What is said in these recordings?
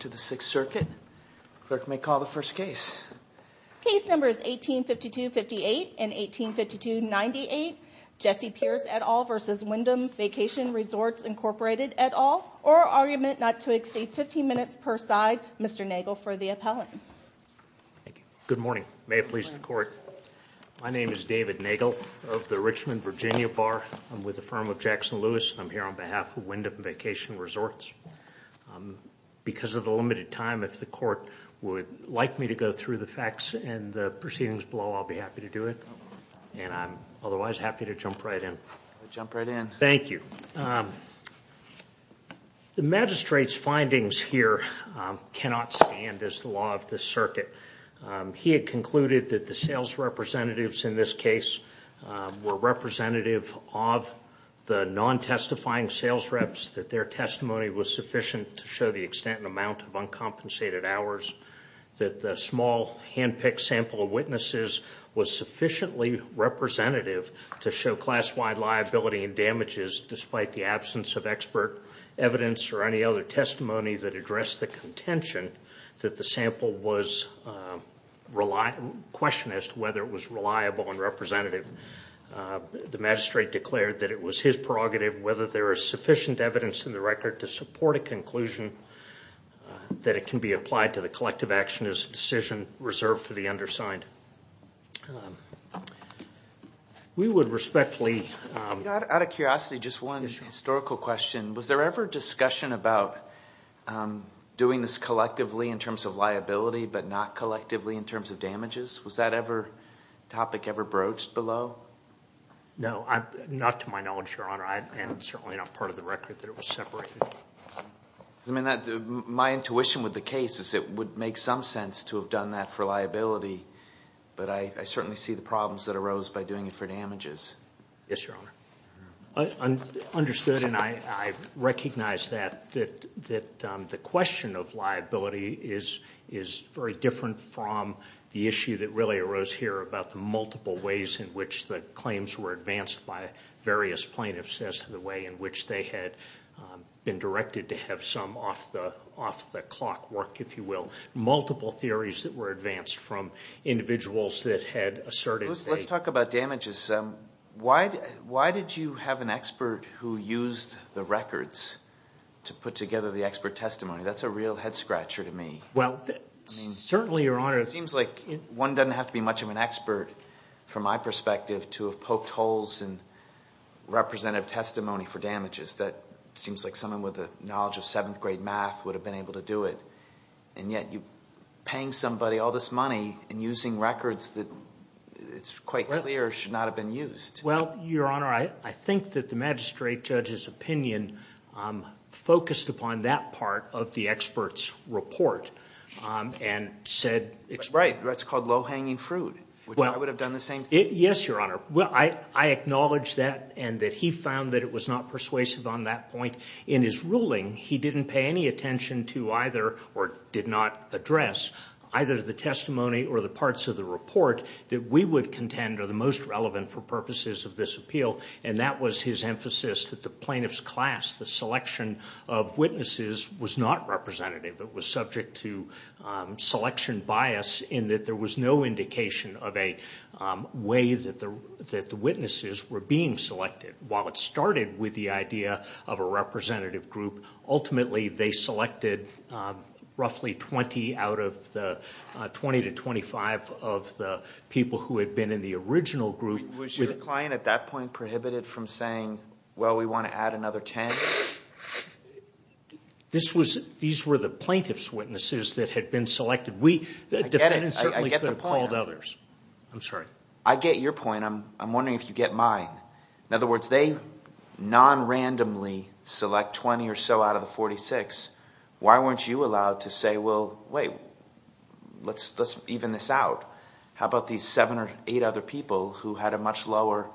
to the Sixth Circuit. Clerk may call the first case. Case number is 1852 58 and 1852 98. Jesse Pierce et al versus Wyndham Vacation Resorts Incorporated et al. Or argument not to exceed 15 minutes per side. Mr. Nagel for the appellant. Thank you. Good morning. May it please the court. My name is David Nagel of the Richmond Virginia Bar. I'm with the firm of Jackson Lewis and I'm on behalf of Wyndham Vacation Resorts. Because of the limited time, if the court would like me to go through the facts and the proceedings below, I'll be happy to do it. And I'm otherwise happy to jump right in. Jump right in. Thank you. The magistrate's findings here cannot stand as the law of the circuit. He had concluded that the sales representatives in this case were representative of the non-testifying sales reps, that their testimony was sufficient to show the extent and amount of uncompensated hours, that the small hand-picked sample of witnesses was sufficiently representative to show class-wide liability and damages despite the absence of expert evidence or any other testimony that addressed the contention that the sample was question as to whether it was reliable and representative. The magistrate declared that it was his prerogative whether there is sufficient evidence in the record to support a conclusion that it can be applied to the collective action as a decision reserved for the undersigned. We would respectfully... Out of curiosity, just one historical question. Was there ever discussion about doing this collectively in terms of damages? Was that topic ever broached below? No. Not to my knowledge, Your Honor. And certainly not part of the record that it was separated. My intuition with the case is it would make some sense to have done that for liability, but I certainly see the problems that arose by doing it for damages. Yes, Your Honor. I understood and I recognize that the question of liability is very different from the issue that really arose here about the multiple ways in which the claims were advanced by various plaintiffs as to the way in which they had been directed to have some off-the-clock work, if you will. Multiple theories that were advanced from individuals that had asserted... Let's talk about damages. Why did you have an expert who used the records to put together the expert testimony? That's a real head-scratcher to me. Well, certainly, Your Honor... It seems like one doesn't have to be much of an expert, from my perspective, to have poked holes in representative testimony for damages. That seems like someone with a knowledge of seventh grade math would have been able to do it. And yet, paying somebody all this money and using records that it's quite clear should not have been used. Well, Your Honor, I think that the magistrate judge's opinion focused upon that part of the expert's report and said... Right. That's called low-hanging fruit. I would have done the same thing. Yes, Your Honor. I acknowledge that and that he found that it was not persuasive on that point. In his ruling, he didn't pay any attention to either or did not address either the testimony or the parts of the report that we would contend are the most relevant for purposes of this appeal. And that was his emphasis, that the plaintiff's class, the selection of witnesses, was not representative. It was subject to selection bias in that there was no indication of a way that the witnesses were being selected. While it started with the idea of a representative group, ultimately, they selected roughly 20 out of the 20 to 25 of the people who had been in the original group. Was your client at that point prohibited from saying, well, we want to add another 10? These were the plaintiff's witnesses that had been selected. I get it. I get the point. I'm sorry. I get your point. I'm wondering if you get mine. In other words, they non-randomly select 20 or so out of the 46. Why weren't you allowed to say, well, wait, let's even this out. How about these seven or eight other people who had a much lower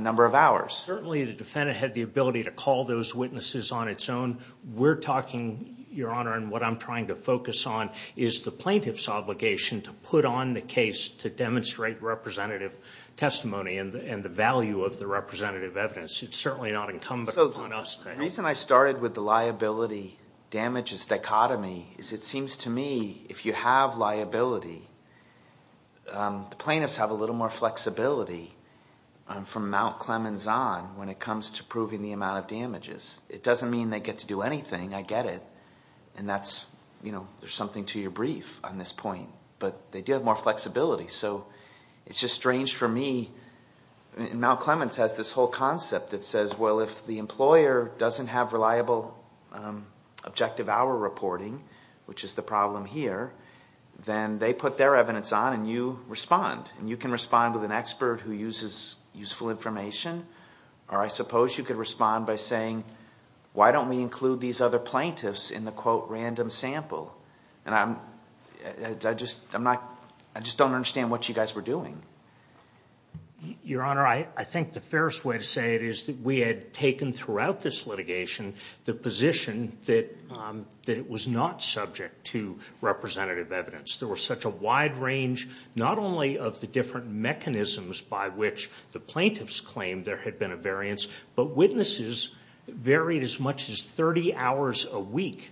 number of hours? Certainly, the defendant had the ability to call those witnesses on its own. We're talking, Your Honor, and what I'm trying to focus on is the plaintiff's obligation to put on the case to demonstrate representative testimony and the value of the representative evidence. It's certainly not incumbent upon us. The reason I started with the liability damages dichotomy is it seems to me if you have liability, the plaintiffs have a little more flexibility from Mount Clemens on when it comes to proving the amount of damages. It doesn't mean they get to do anything. I get it. There's something to your brief on this point, but they do have more flexibility. It's just strange for me. Mount Clemens has this whole concept that says, well, the employer doesn't have reliable objective hour reporting, which is the problem here, then they put their evidence on and you respond. You can respond with an expert who uses useful information, or I suppose you could respond by saying, why don't we include these other plaintiffs in the quote random sample? I just don't understand what you guys were doing. Your Honor, I think the fairest way to say it is that we had taken throughout this litigation the position that it was not subject to representative evidence. There was such a wide range, not only of the different mechanisms by which the plaintiffs claimed there had been a variance, but witnesses varied as much as 30 hours a week,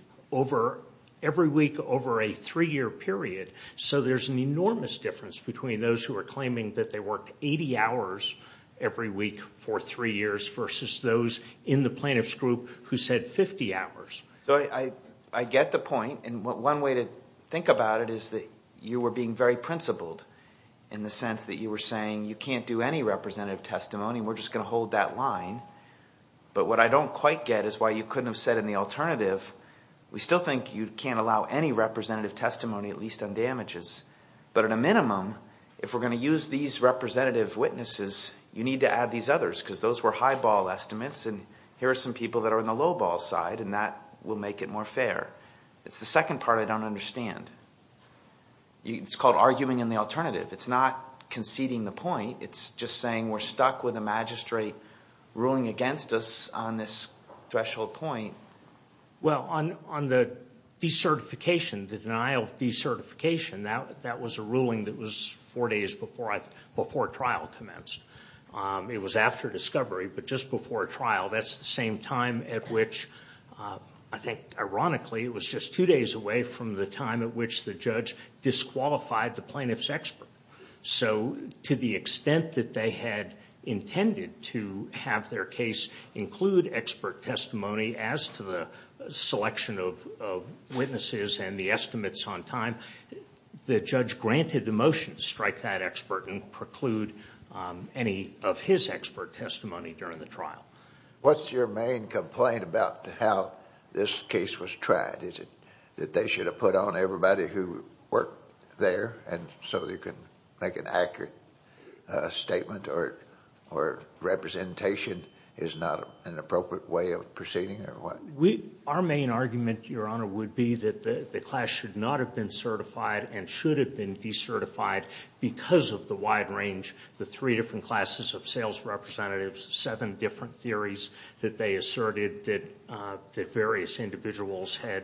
every week over a three-year period, so there's an enormous difference between those who are claiming that they worked 80 hours every week for three years versus those in the plaintiff's group who said 50 hours. I get the point, and one way to think about it is that you were being very principled in the sense that you were saying you can't do any representative testimony, we're just going to hold that line, but what I don't quite get is why you couldn't have said in the alternative, we still think you can't allow any representative testimony, at least on damages, but at a minimum, if we're going to use these representative witnesses, you need to add these others, because those were high ball estimates, and here are some people that are on the low ball side, and that will make it more fair. It's the second part I don't understand. It's called arguing in the alternative. It's not conceding the point, it's just saying we're stuck with a magistrate ruling against us on this recertification. That was a ruling that was four days before trial commenced. It was after discovery, but just before trial, that's the same time at which, I think ironically, it was just two days away from the time at which the judge disqualified the plaintiff's expert. So to the extent that they had intended to have their case include expert testimony as to the selection of the estimates on time, the judge granted the motion to strike that expert and preclude any of his expert testimony during the trial. What's your main complaint about how this case was tried? Is it that they should have put on everybody who worked there, and so you can make an accurate statement, or representation is not an appropriate way of proceeding, or what? Our main argument, Your Honor, would be that the class should not have been certified and should have been decertified because of the wide range, the three different classes of sales representatives, seven different theories that they asserted that various individuals had,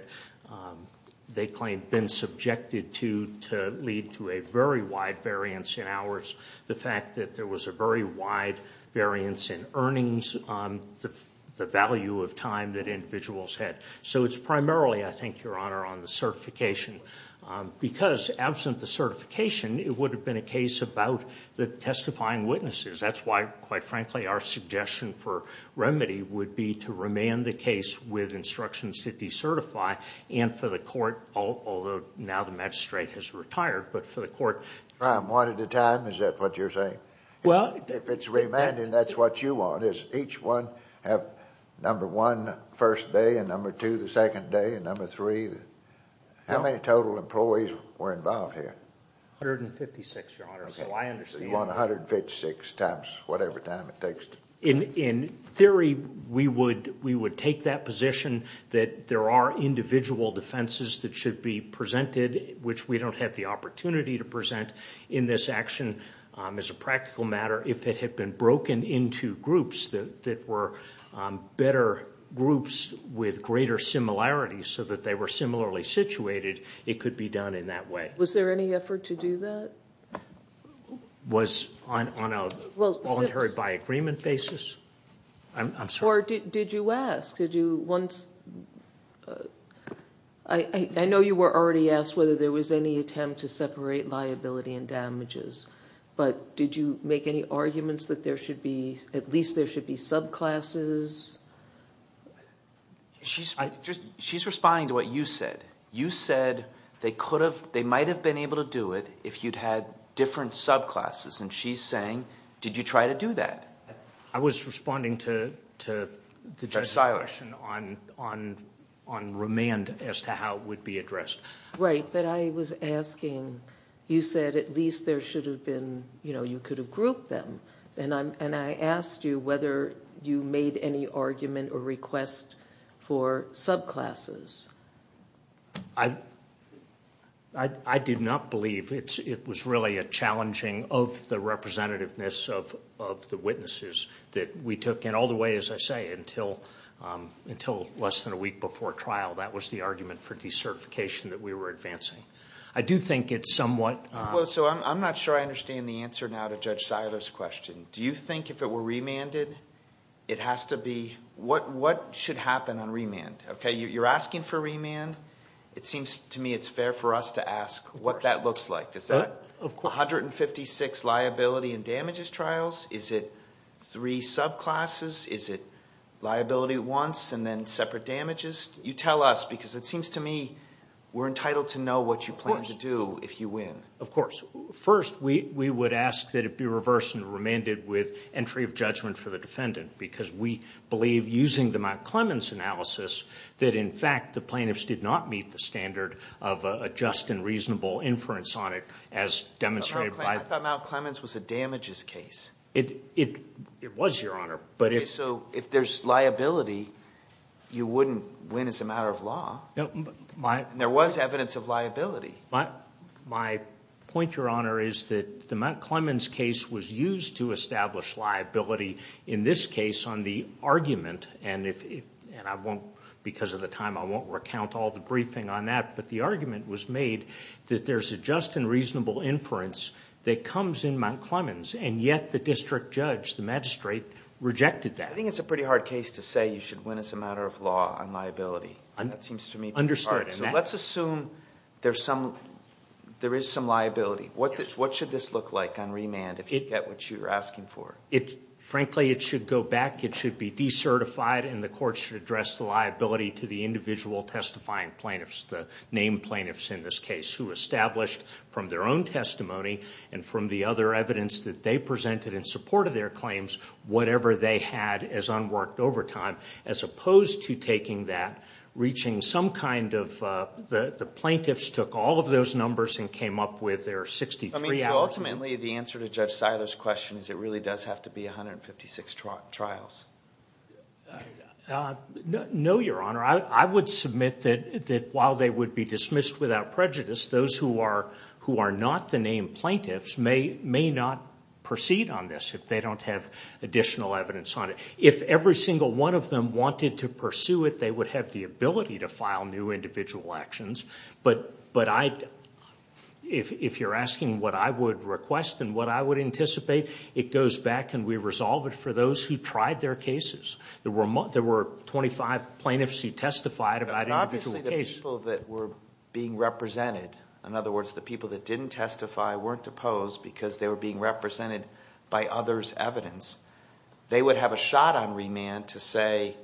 they claimed, been subjected to, to lead to a very wide variance in hours. The fact that there was a very wide variance in earnings on the value of time that individuals had. So it's primarily, I think, Your Honor, on the certification. Because absent the certification, it would have been a case about the testifying witnesses. That's why, quite frankly, our suggestion for remedy would be to remand the case with instructions to decertify, and for the court, although now the magistrate has retired, but for the court. One at a time, is that what you're saying? Well, if it's remanded, that's what you want, is each one have number one first day, and number two the second day, and number three. How many total employees were involved here? 156, Your Honor. So you want 156 times whatever time it takes. In theory, we would take that position that there are individual defenses that should be presented, which we don't have the opportunity to present in this action. As a practical matter, if it had been broken into groups that were better groups with greater similarities so that they were similarly situated, it could be done in that way. Was there any effort to do that? Was on a voluntary by agreement basis? I'm sorry. Or did you ask? I know you were already asked whether there was any attempt to separate liability and damages, but did you make any arguments that at least there should be subclasses? She's responding to what you said. You said they might have been able to do it if you'd had different subclasses, and she's saying, did you try to do that? I was responding to Judge Silish on remand as to how it would be addressed. Right, but I was asking, you said at least there should have been, you know, you could have grouped them, and I asked you whether you made any argument or request for subclasses. I did not believe it was really a challenging of the representativeness of the witnesses that we took, and all the way, as I say, until less than a week before trial, that was the argument for decertification that we were advancing. I do think it's somewhat... Well, so I'm not sure I understand the answer now to Judge Silish's question. Do you think if it remanded, it has to be... What should happen on remand? Okay, you're asking for remand. It seems to me it's fair for us to ask what that looks like. Is that 156 liability and damages trials? Is it three subclasses? Is it liability once and then separate damages? You tell us, because it seems to me we're entitled to know what you plan to do if you win. Of course. First, we would ask that it be reversed and remanded with entry of judgment for the defendant, because we believe, using the Mount Clemens analysis, that in fact the plaintiffs did not meet the standard of a just and reasonable inference on it as demonstrated by... I thought Mount Clemens was a damages case. It was, Your Honor, but if... So if there's liability, you wouldn't win as a matter of law. There was evidence of liability. My point, Your Honor, is that the Mount Clemens case was used to establish liability in this case on the argument, and I won't, because of the time, I won't recount all the briefing on that, but the argument was made that there's a just and reasonable inference that comes in Mount Clemens, and yet the district judge, the magistrate, rejected that. I think it's a pretty hard case to say you should win as a matter of law on liability. That seems to me pretty hard. Understood. Let's assume there is some liability. What should this look like on remand if you get what you're asking for? Frankly, it should go back. It should be decertified, and the court should address the liability to the individual testifying plaintiffs, the named plaintiffs in this case, who established from their own testimony and from the other evidence that they presented in support of their claims whatever they had as unworked overtime, as opposed to taking that, reaching some kind of, the plaintiffs took all of those numbers and came up with their 63 hours. I mean, so ultimately, the answer to Judge Siler's question is it really does have to be 156 trials. No, Your Honor. I would submit that while they would be dismissed without prejudice, those who are not the named If every single one of them wanted to pursue it, they would have the ability to file new individual actions, but I, if you're asking what I would request and what I would anticipate, it goes back and we resolve it for those who tried their cases. There were 25 plaintiffs who testified about individual cases. Obviously, the people that were being represented, in other words, the people that didn't testify weren't opposed because they were being represented by others' evidence. They would have a shot on remand to say,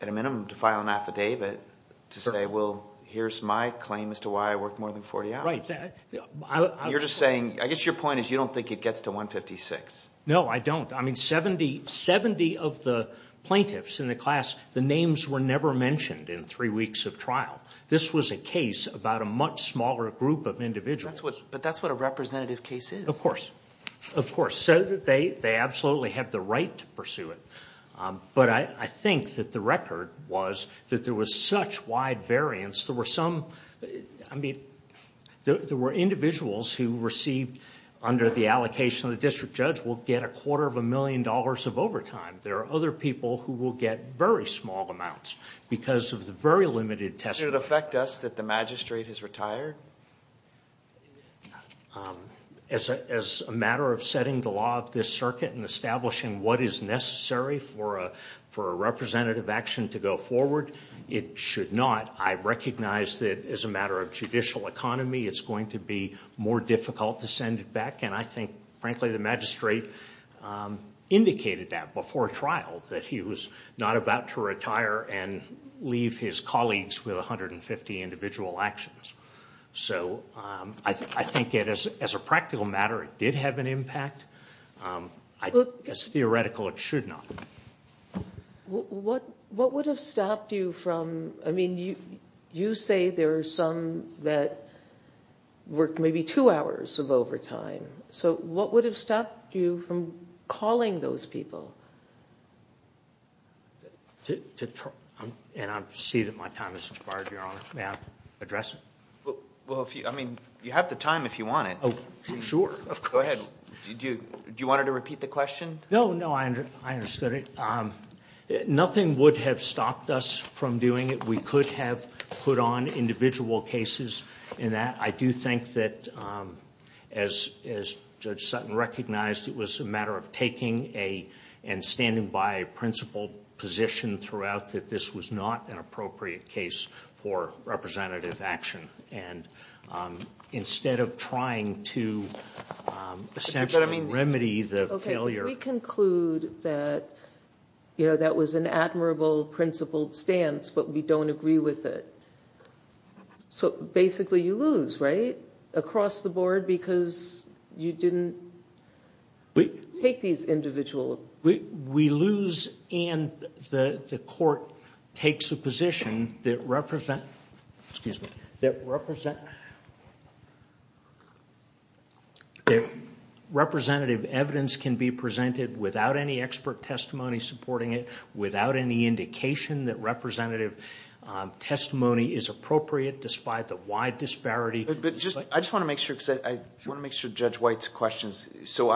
at a minimum, to file an affidavit to say, well, here's my claim as to why I worked more than 40 hours. Right. You're just saying, I guess your point is you don't think it gets to 156. No, I don't. I mean, 70 of the plaintiffs in the class, the names were never mentioned in three weeks of trial. This was a case about a much smaller group of individuals. But that's what a representative case is. Of course, of course. They absolutely have the right to pursue it. But I think that the record was that there was such wide variance. There were some, I mean, there were individuals who received under the allocation of the district judge will get a quarter of a million dollars of overtime. There are other people who will get very small amounts because of the very limited testimony. Did it affect us that the magistrate has retired? As a matter of setting the law of this circuit and establishing what is necessary for a representative action to go forward, it should not. I recognize that as a matter of judicial economy, it's going to be more difficult to send it back. And I think, frankly, the magistrate indicated that before trial, that he was not about to retire and leave his colleagues with 150 individual actions. So I think as a practical matter, it did have an impact. It's theoretical, it should not. What would have stopped you from, I mean, you say there are some that worked maybe two hours of overtime. So what would have stopped you from calling those people? And I see that my time has expired, Your Honor. May I address it? Well, I mean, you have the time if you want it. Oh, sure. Go ahead. Do you want to repeat the question? No, no, I understood it. Nothing would have stopped us from doing it. We could have put on individual cases in that. I do think that as Judge Sutton recognized, it was a matter of taking and standing by a principled position throughout that this was not an appropriate case for representative action. And instead of trying to essentially remedy the failure. We conclude that that was an admirable, principled stance, but we don't agree with it. So basically, you lose, right? Across the board because you didn't take these individual. We lose and the court takes a position that representative evidence can be presented without any expert testimony supporting it, without any indication that representative testimony is appropriate despite the wide disparity. I just want to make sure because I want to make sure Judge White's questions. So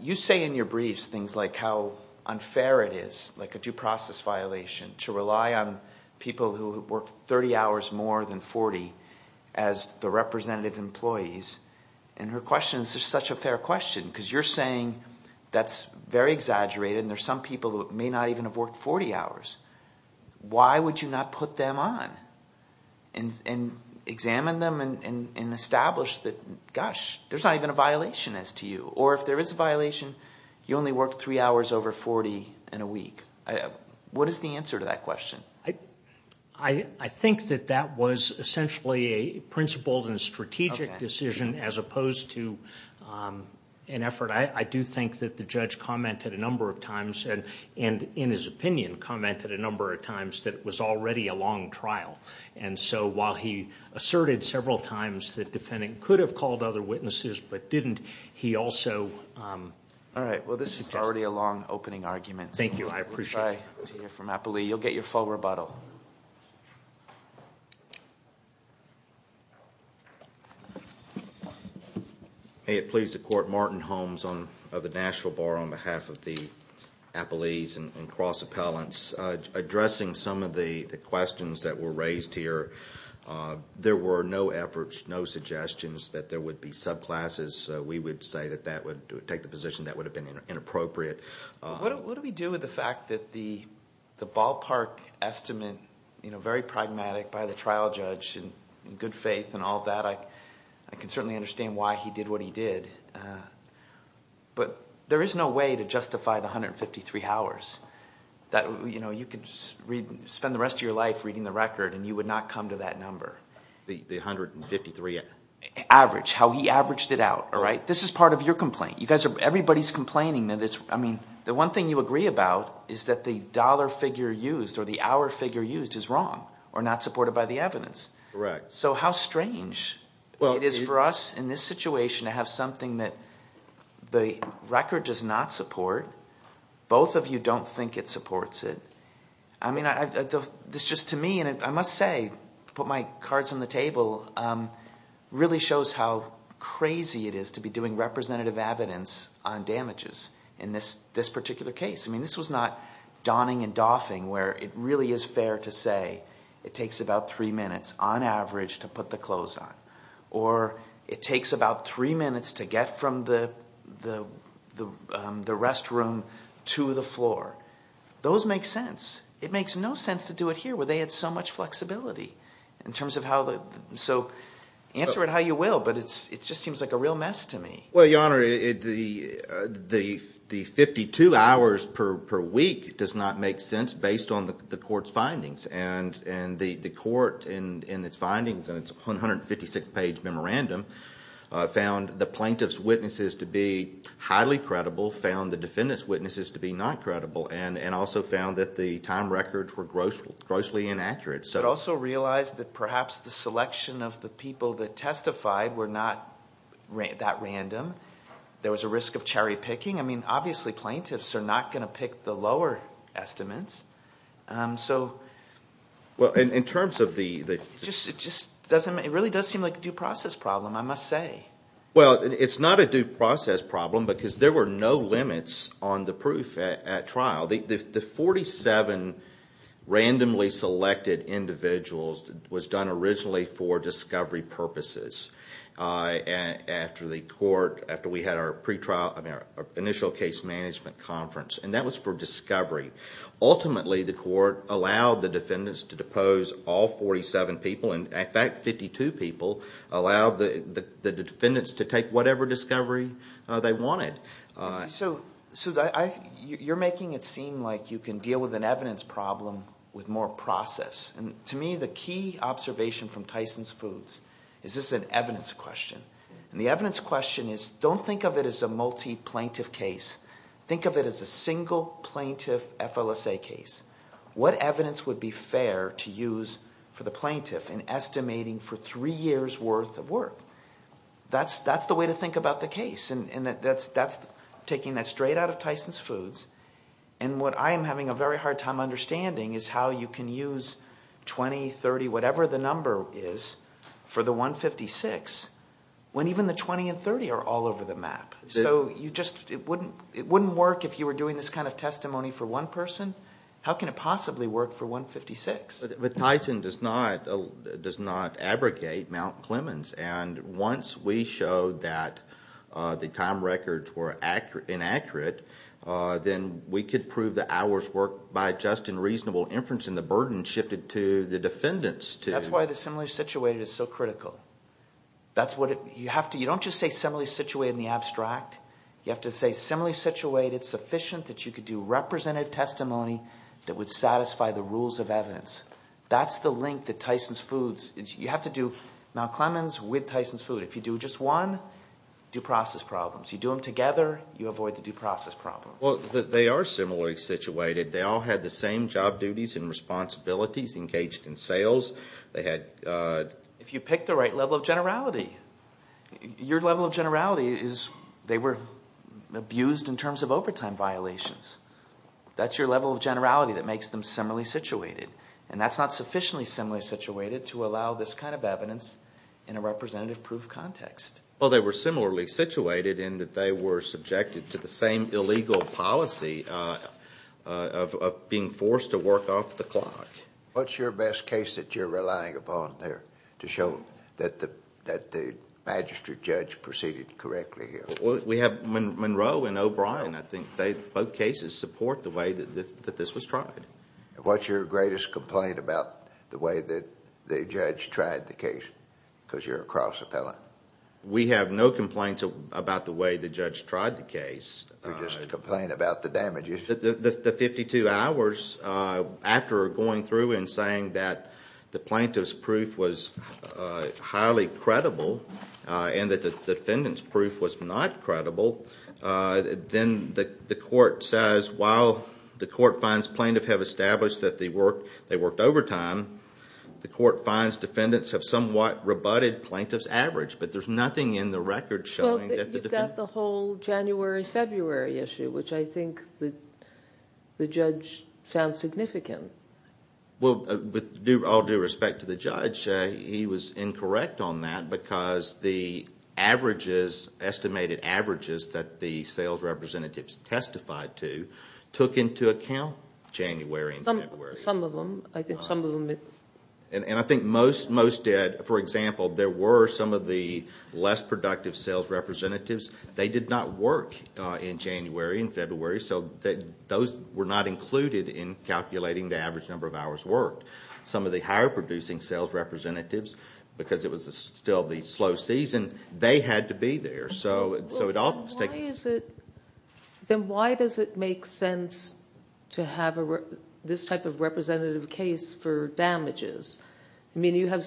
you say in your briefs, things like how unfair it is, like a due process violation to rely on people who work 30 hours more than 40 as the representative employees. And her question is just such a fair question because you're saying that's very exaggerated. And there's some people who may not even have worked 40 hours. Why would you not put them on and examine them and establish that, gosh, there's not even a violation as to you or if there is a violation, you only worked three hours over 40 in a week. What is the answer to that question? I think that that was essentially a principled and strategic decision as opposed to an effort. I do think that the judge commented a number of times and in his opinion commented a number of times that it was already a long trial. And so while he asserted several times that defendant could have called other witnesses, but didn't, he also... All right. Well, this is already a long opening argument. Thank you. I appreciate it. We'll try to hear from Appelee. You'll get your full rebuttal. May it please the Court. Martin Holmes of the Nashville Bar on behalf of the Appelees and cross appellants. Addressing some of the questions that were raised here, there were no efforts, no suggestions that there would be subclasses. We would say that that would take the position that would have been inappropriate. What do we do with the fact that the ballpark estimate, very pragmatic by the trial judge and good faith and all that. I can certainly understand why he did what he did, but there is no way to justify the 153 hours that you could spend the rest of your life reading the record and you would not come to that number. The 153 average, how he averaged it out. All right. This is part of your complaint. You guys are, everybody's complaining that it's, I mean, the one thing you agree about is that the dollar figure used or the hour figure used is wrong or not supported by the evidence. Correct. So how strange it is for us in this situation to have something that the record does not support. Both of you don't think it supports it. I mean, this just to me, and I must say, put my cards on the table, really shows how crazy it is to be doing representative evidence on damages in this particular case. I mean, this was not donning and doffing where it really is fair to say it takes about three minutes on average to put the clothes on, or it takes about three minutes to get from the restroom to the floor. Those make sense. It makes no sense to do it here where they had so much flexibility in terms of how the, so answer it how you will, but it's, it just seems like a real mess to me. Well, Your Honor, the 52 hours per week does not make sense based on the court's findings and the court in its findings and its 156 page memorandum found the plaintiff's witnesses to be highly credible, found the defendant's witnesses to be not credible, and also found that the time records were grossly inaccurate. It also realized that perhaps the selection of the people that testified were not that random. There was a risk of cherry picking. I mean, obviously plaintiffs are not going to pick the lower estimates, so. Well, in terms of the... It just doesn't, it really does seem like a due process problem, I must say. Well, it's not a due process problem because there were no limits on the proof at trial. The 47 randomly selected individuals was done originally for discovery purposes after the court, after we had our pre-trial, I mean our initial case management conference, and that was for discovery. Ultimately, the court allowed the defendants to depose all 47 people, and in fact, 52 people allowed the defendants to take whatever discovery they wanted. So, you're making it seem like you can deal with an evidence problem with more process, and to me, the key observation from Tyson's Foods is this is an evidence question, and the evidence question is don't think of it as a multi-plaintiff case. Think of it as a single plaintiff FLSA case. What evidence would be fair to use for the plaintiff in estimating for three years worth of work? That's the way to think about the case, and that's taking that straight out of Tyson's Foods, and what I am having a very hard time understanding is how you can use 20, 30, whatever the number is for the 156 when even the 20 and 30 are all over the map. So, it wouldn't work if you were doing this kind of testimony for one person. How can it possibly work for 156? But Tyson does not abrogate Mount Clemens, and once we showed that the time records were inaccurate, then we could prove the hours worked by just and reasonable inference, and the burden shifted to the defendants to- That's why the similarly situated is so critical. That's what it, you have to, you don't just say similarly situated in the abstract. You have to say similarly situated sufficient that you could do representative testimony that would satisfy the rules of evidence. That's the link that Tyson's Foods, you have to do Mount Clemens with Tyson's Foods. If you do just one, due process problems. You do them together, you avoid the due process problem. Well, they are similarly situated. They all had the same job duties and responsibilities engaged in sales. They had- If you pick the right level of generality. Your level of generality is they were abused in terms of overtime violations. That's your level of generality that makes them similarly situated, and that's not sufficiently similarly situated to allow this kind of evidence in a representative proof context. Well, they were similarly situated in that they were subjected to the same illegal policy of being forced to work off the clock. What's your best case that you're relying upon there to show that the magistrate judge proceeded correctly here? We have Monroe and O'Brien. I think they, both cases, support the way that this was tried. What's your greatest complaint about the way that the judge tried the case? Because you're a cross appellant. We have no complaints about the way the judge tried the case. We just complain about the damages. The 52 hours after going through and saying that the plaintiff's proof was highly credible and that the defendant's proof was not credible, then the court says while the court finds plaintiff have established that they worked overtime, the court finds defendants have somewhat rebutted plaintiff's average, but there's nothing in the record showing that the defendant- Is that the whole January-February issue, which I think the judge found significant? Well, with all due respect to the judge, he was incorrect on that because the averages, estimated averages that the sales representatives testified to took into account January and February. Some of them. I think some of them- And I think most did. For example, there were some of the less productive sales representatives. They did not work in January and February. So those were not included in calculating the average number of hours worked. Some of the higher producing sales representatives, because it was still the slow season, they had to be there. So it all- Then why does it make sense to have this type of representative case for damages? I mean, you have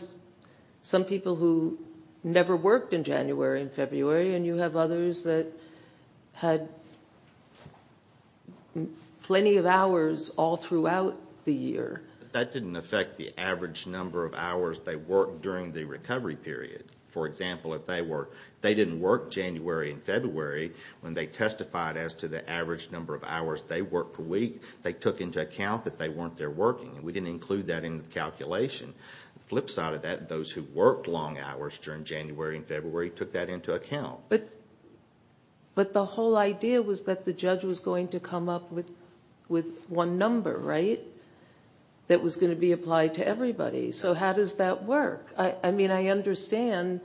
some people who never worked in January and February, and you have others that had plenty of hours all throughout the year. That didn't affect the average number of hours they worked during the recovery period. For example, if they didn't work January and February, when they testified as to the average number of hours they worked per week, they took into account that they weren't there working. We didn't include that in the calculation. The flip side of that, those who worked long hours during January and February took that into account. But the whole idea was that the judge was going to come up with one number, right, that was going to be applied to everybody. So how does that work? I mean, I understand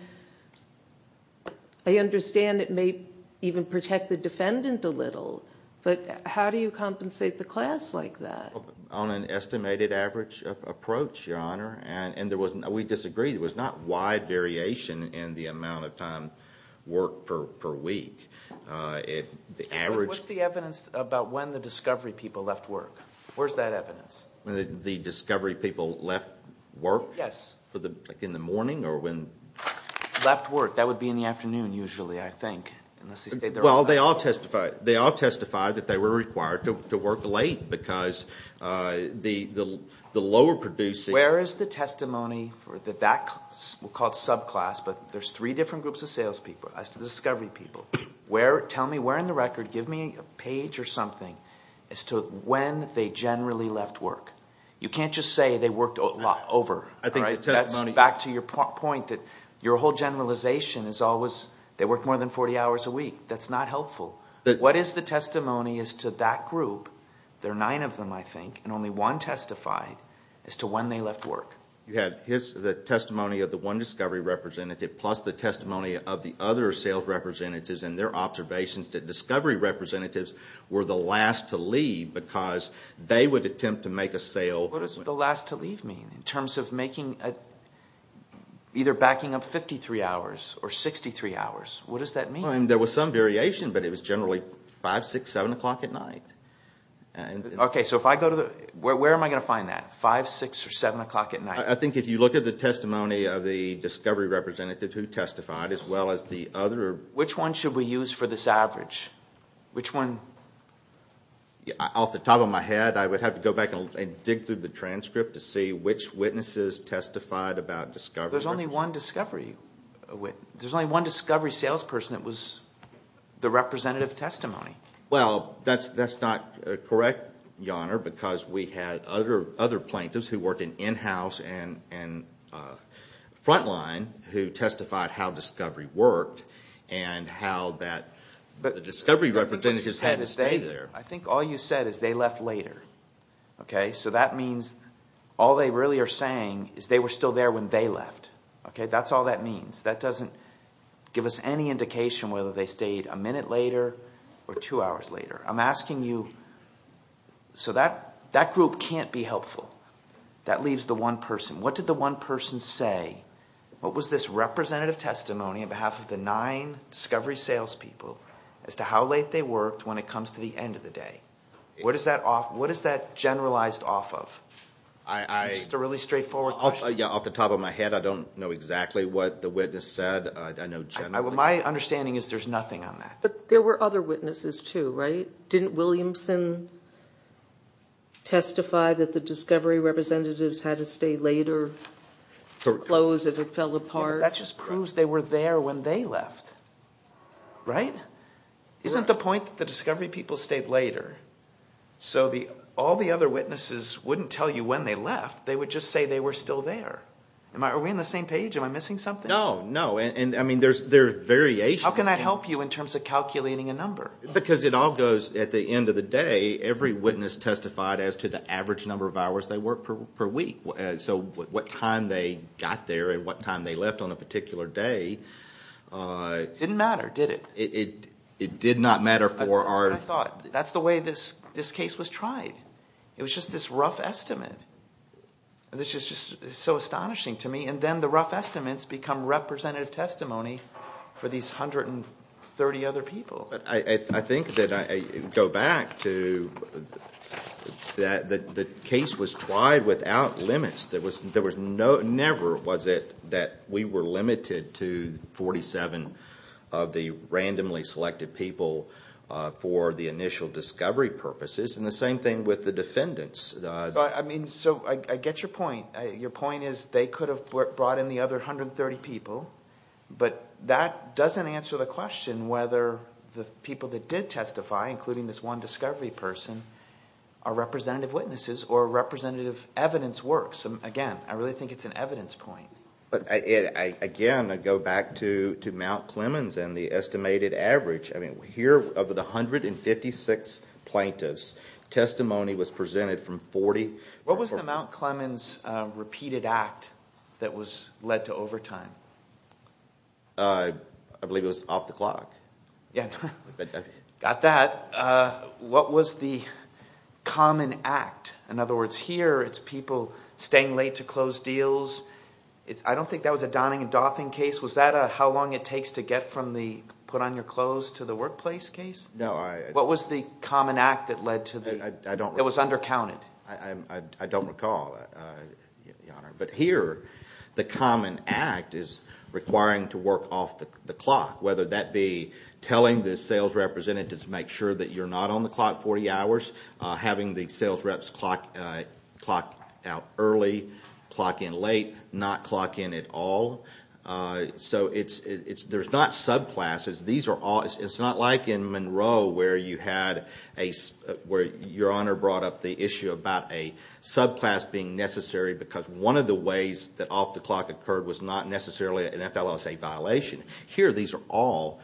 it may even protect the defendant a little, but how do you compensate the class like that? On an estimated average approach, Your Honor, and we disagree. There was not wide variation in the amount of time worked per week. What's the evidence about when the discovery people left work? Where's that evidence? When the discovery people left work? Yes. Like in the morning or when- Left work. They all testified that they were required to work late because the lower producing- Where is the testimony for that, we'll call it subclass, but there's three different groups of salespeople as to the discovery people. Tell me where in the record, give me a page or something as to when they generally left work. You can't just say they worked over, all right? That's back to your point that your whole generalization is always they worked more than 40 hours a week. That's not helpful. What is the testimony as to that group? There are nine of them, I think, and only one testified as to when they left work. You have the testimony of the one discovery representative plus the testimony of the other sales representatives and their observations that discovery representatives were the last to leave because they would attempt to make a sale- What does the last to leave mean in terms of either backing up 53 hours or 63 hours? What does that mean? There was some variation, but it was generally 5, 6, 7 o'clock at night. Okay, so where am I going to find that? 5, 6, or 7 o'clock at night? I think if you look at the testimony of the discovery representative who testified as well as the other- Which one should we use for this average? Which one? Off the top of my head, I would have to go back and dig through the transcript to see which witnesses testified about discovery- There's only one discovery. There's only one discovery salesperson that was the representative testimony. Well, that's not correct, Your Honor, because we had other plaintiffs who worked in in-house and frontline who testified how discovery worked and how the discovery representatives had to stay there. I think all you said is they left later. So that means all they really are saying is they were still there when they left. That's all that means. That doesn't give us any indication whether they stayed a minute later or two hours later. I'm asking you- So that group can't be helpful. That leaves the one person. What did the one person say? What was this representative testimony on behalf of the nine discovery salespeople as to how late they worked when it comes to the end of the day? What is that generalized off of? It's just a really straightforward question. Yeah, off the top of my head, I don't know exactly what the witness said. I know generally- My understanding is there's nothing on that. But there were other witnesses too, right? Didn't Williamson testify that the discovery representatives had to stay later, close if it fell apart? That just proves they were there when they left, right? Isn't the point that the discovery people stayed later? So all the other witnesses wouldn't tell you when they left. They would just say they were still there. Are we on the same page? Am I missing something? No, no. And I mean, there are variations. How can that help you in terms of calculating a number? Because it all goes at the end of the day. Every witness testified as to the average number of hours they worked per week. So what time they got there and what time they left on a particular day- Didn't matter, did it? It did not matter for our- That's what I thought. That's the way this case was tried. It was just this rough estimate. This is just so astonishing to me. And then the rough estimates become representative testimony for these 130 other people. I think that I go back to that the case was tried without limits. Never was it that we were limited to 47 of the randomly selected people for the initial discovery purposes. And the same thing with the defendants. So I get your point. Your point is they could have brought in the other 130 people. But that doesn't answer the question whether the people that did testify, including this one discovery person, are representative witnesses or representative evidence works. Again, I really think it's an evidence point. But again, I go back to Mount Clemens and the estimated average. Here of the 156 plaintiffs, testimony was presented from 40- What was the Mount Clemens repeated act that led to overtime? I believe it was off the clock. Yeah, got that. What was the common act? In other words, here it's people staying late to close deals. I don't think that was a Donning and Doffing case. How long it takes to get from the put on your clothes to the workplace case? What was the common act that led to the- It was undercounted. I don't recall, Your Honor. But here, the common act is requiring to work off the clock, whether that be telling the sales representatives to make sure that you're not on the clock 40 hours, having the sales reps clock out early, clock in late, not clock in at all. There's not subclasses. It's not like in Monroe where you had a- where Your Honor brought up the issue about a subclass being necessary because one of the ways that off the clock occurred was not necessarily an FLSA violation. Here, these are all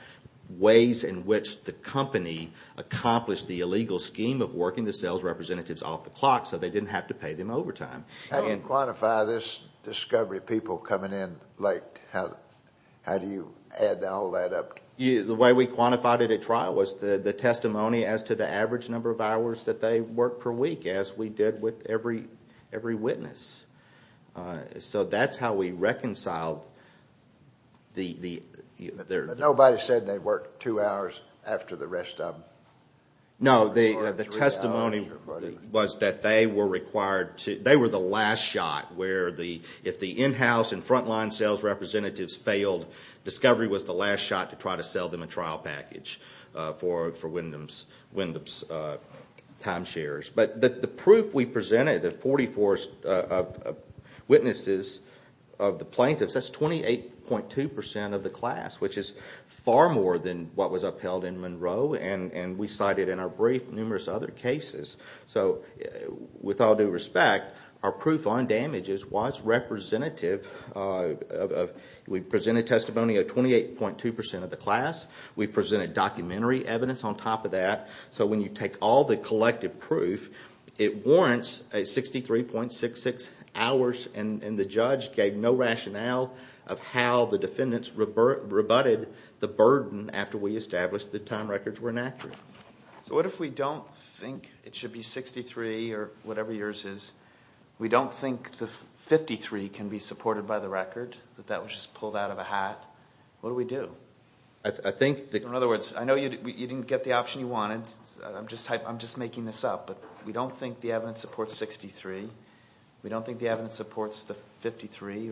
ways in which the company accomplished the illegal scheme of working the sales representatives off the clock so they didn't have to pay them overtime. How do you quantify this discovery of people coming in late? How do you add all that up? The way we quantified it at trial was the testimony as to the average number of hours that they worked per week as we did with every witness. So that's how we reconciled the- Nobody said they worked two hours after the rest of them. No, the testimony was that they were required to- They were the last shot where the- If the in-house and frontline sales representatives failed, discovery was the last shot to try to sell them a trial package for Wyndham's timeshares. But the proof we presented, the 44 witnesses of the plaintiffs, that's 28.2% of the class, which is far more than what was upheld in Monroe and we cited in our brief numerous other cases. So with all due respect, our proof on damages was representative of- We presented testimony of 28.2% of the class. We presented documentary evidence on top of that. So when you take all the collective proof, it warrants a 63.66 hours and the judge gave no rationale of how the defendants rebutted the burden after we established the time records were inaccurate. So what if we don't think it should be 63 or whatever yours is? We don't think the 53 can be supported by the record, that that was just pulled out of a hat. What do we do? I think- In other words, I know you didn't get the option you wanted. I'm just making this up, but we don't think the evidence supports 63. We don't think the evidence supports the 53.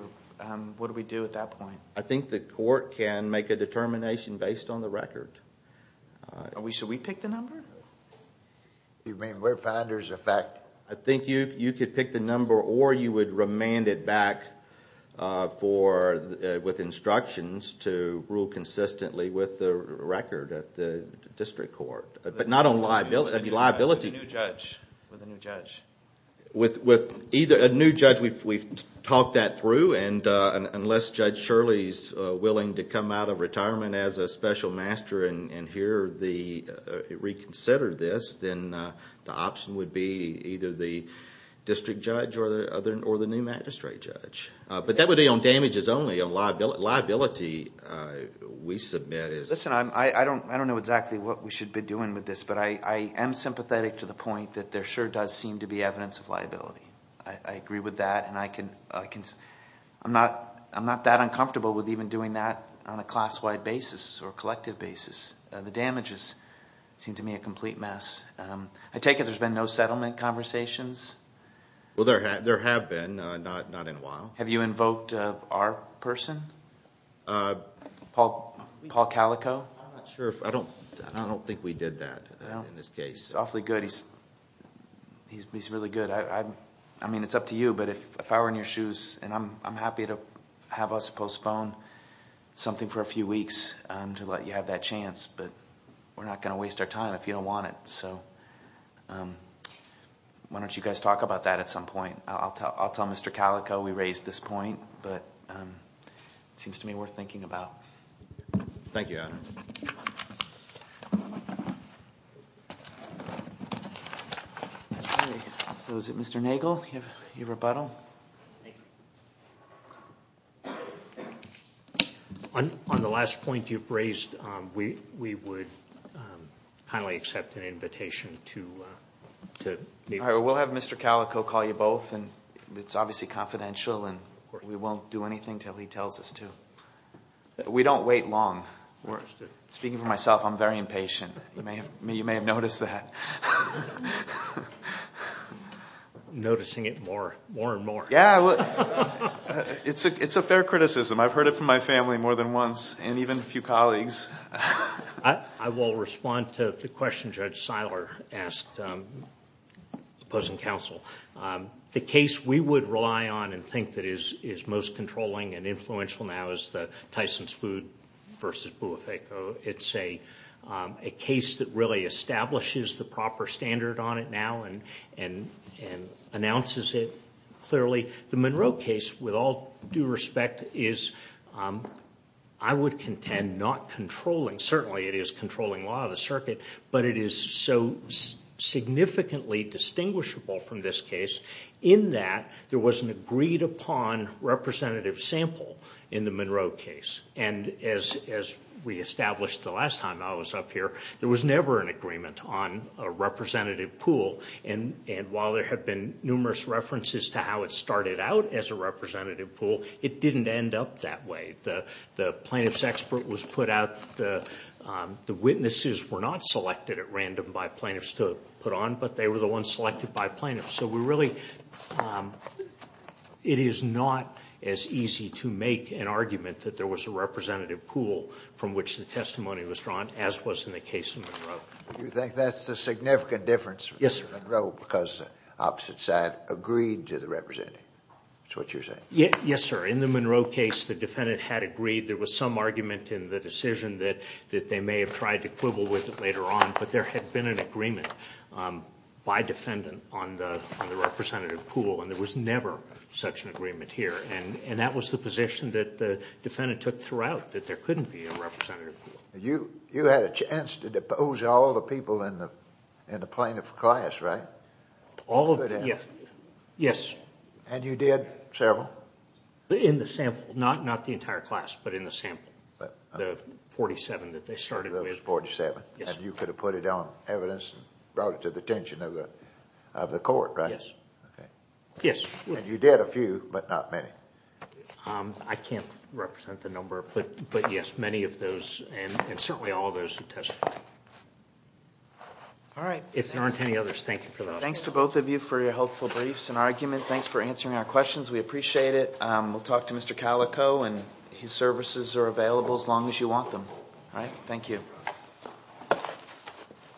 What do we do at that point? I think the court can make a determination based on the record. So we pick the number? You mean we're finders of fact? I think you could pick the number or you would remand it back with instructions to rule consistently with the record at the district court, but not on liability. That'd be liability. With a new judge. With either a new judge, we've talked that through and unless Judge Shirley's willing to come out of retirement as a special master and reconsider this, then the option would be either the district judge or the new magistrate judge. But that would be on damages only, liability we submit is- Listen, I don't know exactly what we should be doing with this, but I am sympathetic to the point that there sure does seem to be evidence of liability. I agree with that and I'm not that uncomfortable with even doing that on a class-wide basis or collective basis. The damages seem to me a complete mess. I take it there's been no settlement conversations? Well, there have been, not in a while. Have you invoked our person? Paul Calico? I'm not sure. I don't think we did that in this case. He's awfully good. He's really good. I mean, it's up to you, but if I were in your shoes and I'm happy to have us postpone something for a few weeks to let you have that chance, but we're not going to waste our time if you don't want it. So why don't you guys talk about that at some point? I'll tell Mr. Calico we raised this point, but it seems to me worth thinking about. Thank you, Adam. So is it Mr. Nagel? Do you have a rebuttal? Thank you. On the last point you've raised, we would kindly accept an invitation to meet. We'll have Mr. Calico call you both, and it's obviously confidential, and we won't do anything until he tells us to. We don't wait long. Speaking for myself, I'm very impatient. You may have noticed that. I'm noticing it more and more. Yeah, it's a fair criticism. I've heard it from my family more than once, and even a few colleagues. I will respond to the question Judge Seiler asked the opposing counsel. The case we would rely on and think that is most controlling and influential now is the Tyson's Food v. Boifeco. It's a case that really establishes the proper standard on it now and announces it clearly. The Monroe case, with all due respect, is, I would contend, not controlling. Certainly it is controlling law of the circuit, but it is so significantly distinguishable from this case in that there was an agreed upon representative sample in the Monroe case. As we established the last time I was up here, there was never an agreement on a representative pool, and while there have been numerous references to how it started out as a representative pool, it didn't end up that way. The plaintiff's expert was put out. The witnesses were not selected at random by plaintiffs to put on, but they were the ones selected by plaintiffs. It is not as easy to make an argument that there was a representative pool from which the testimony was drawn, as was in the case of Monroe. Do you think that's the significant difference? Yes, sir. Monroe, because opposite side, agreed to the representative. Is that what you're saying? Yes, sir. In the Monroe case, the defendant had agreed. There was some argument in the decision that they may have tried to quibble with it later on, but there had been an agreement by defendant on the representative pool, and there was never such an agreement here, and that was the position that the defendant took throughout, that there couldn't be a representative pool. You had a chance to depose all the people in the plaintiff's class, right? All of them, yes. And you did several? In the sample, not the entire class, but in the sample, the 47 that they started with. And you could have put it on evidence and brought it to the attention of the court, right? Yes. And you did a few, but not many? I can't represent the number, but yes, many of those, and certainly all those who testified. All right. If there aren't any others, thank you for that. Thanks to both of you for your helpful briefs and argument. Thanks for answering our questions. We appreciate it. We'll talk to Mr. Calico, and his services are available as long as you want them. All right, thank you. Thank you.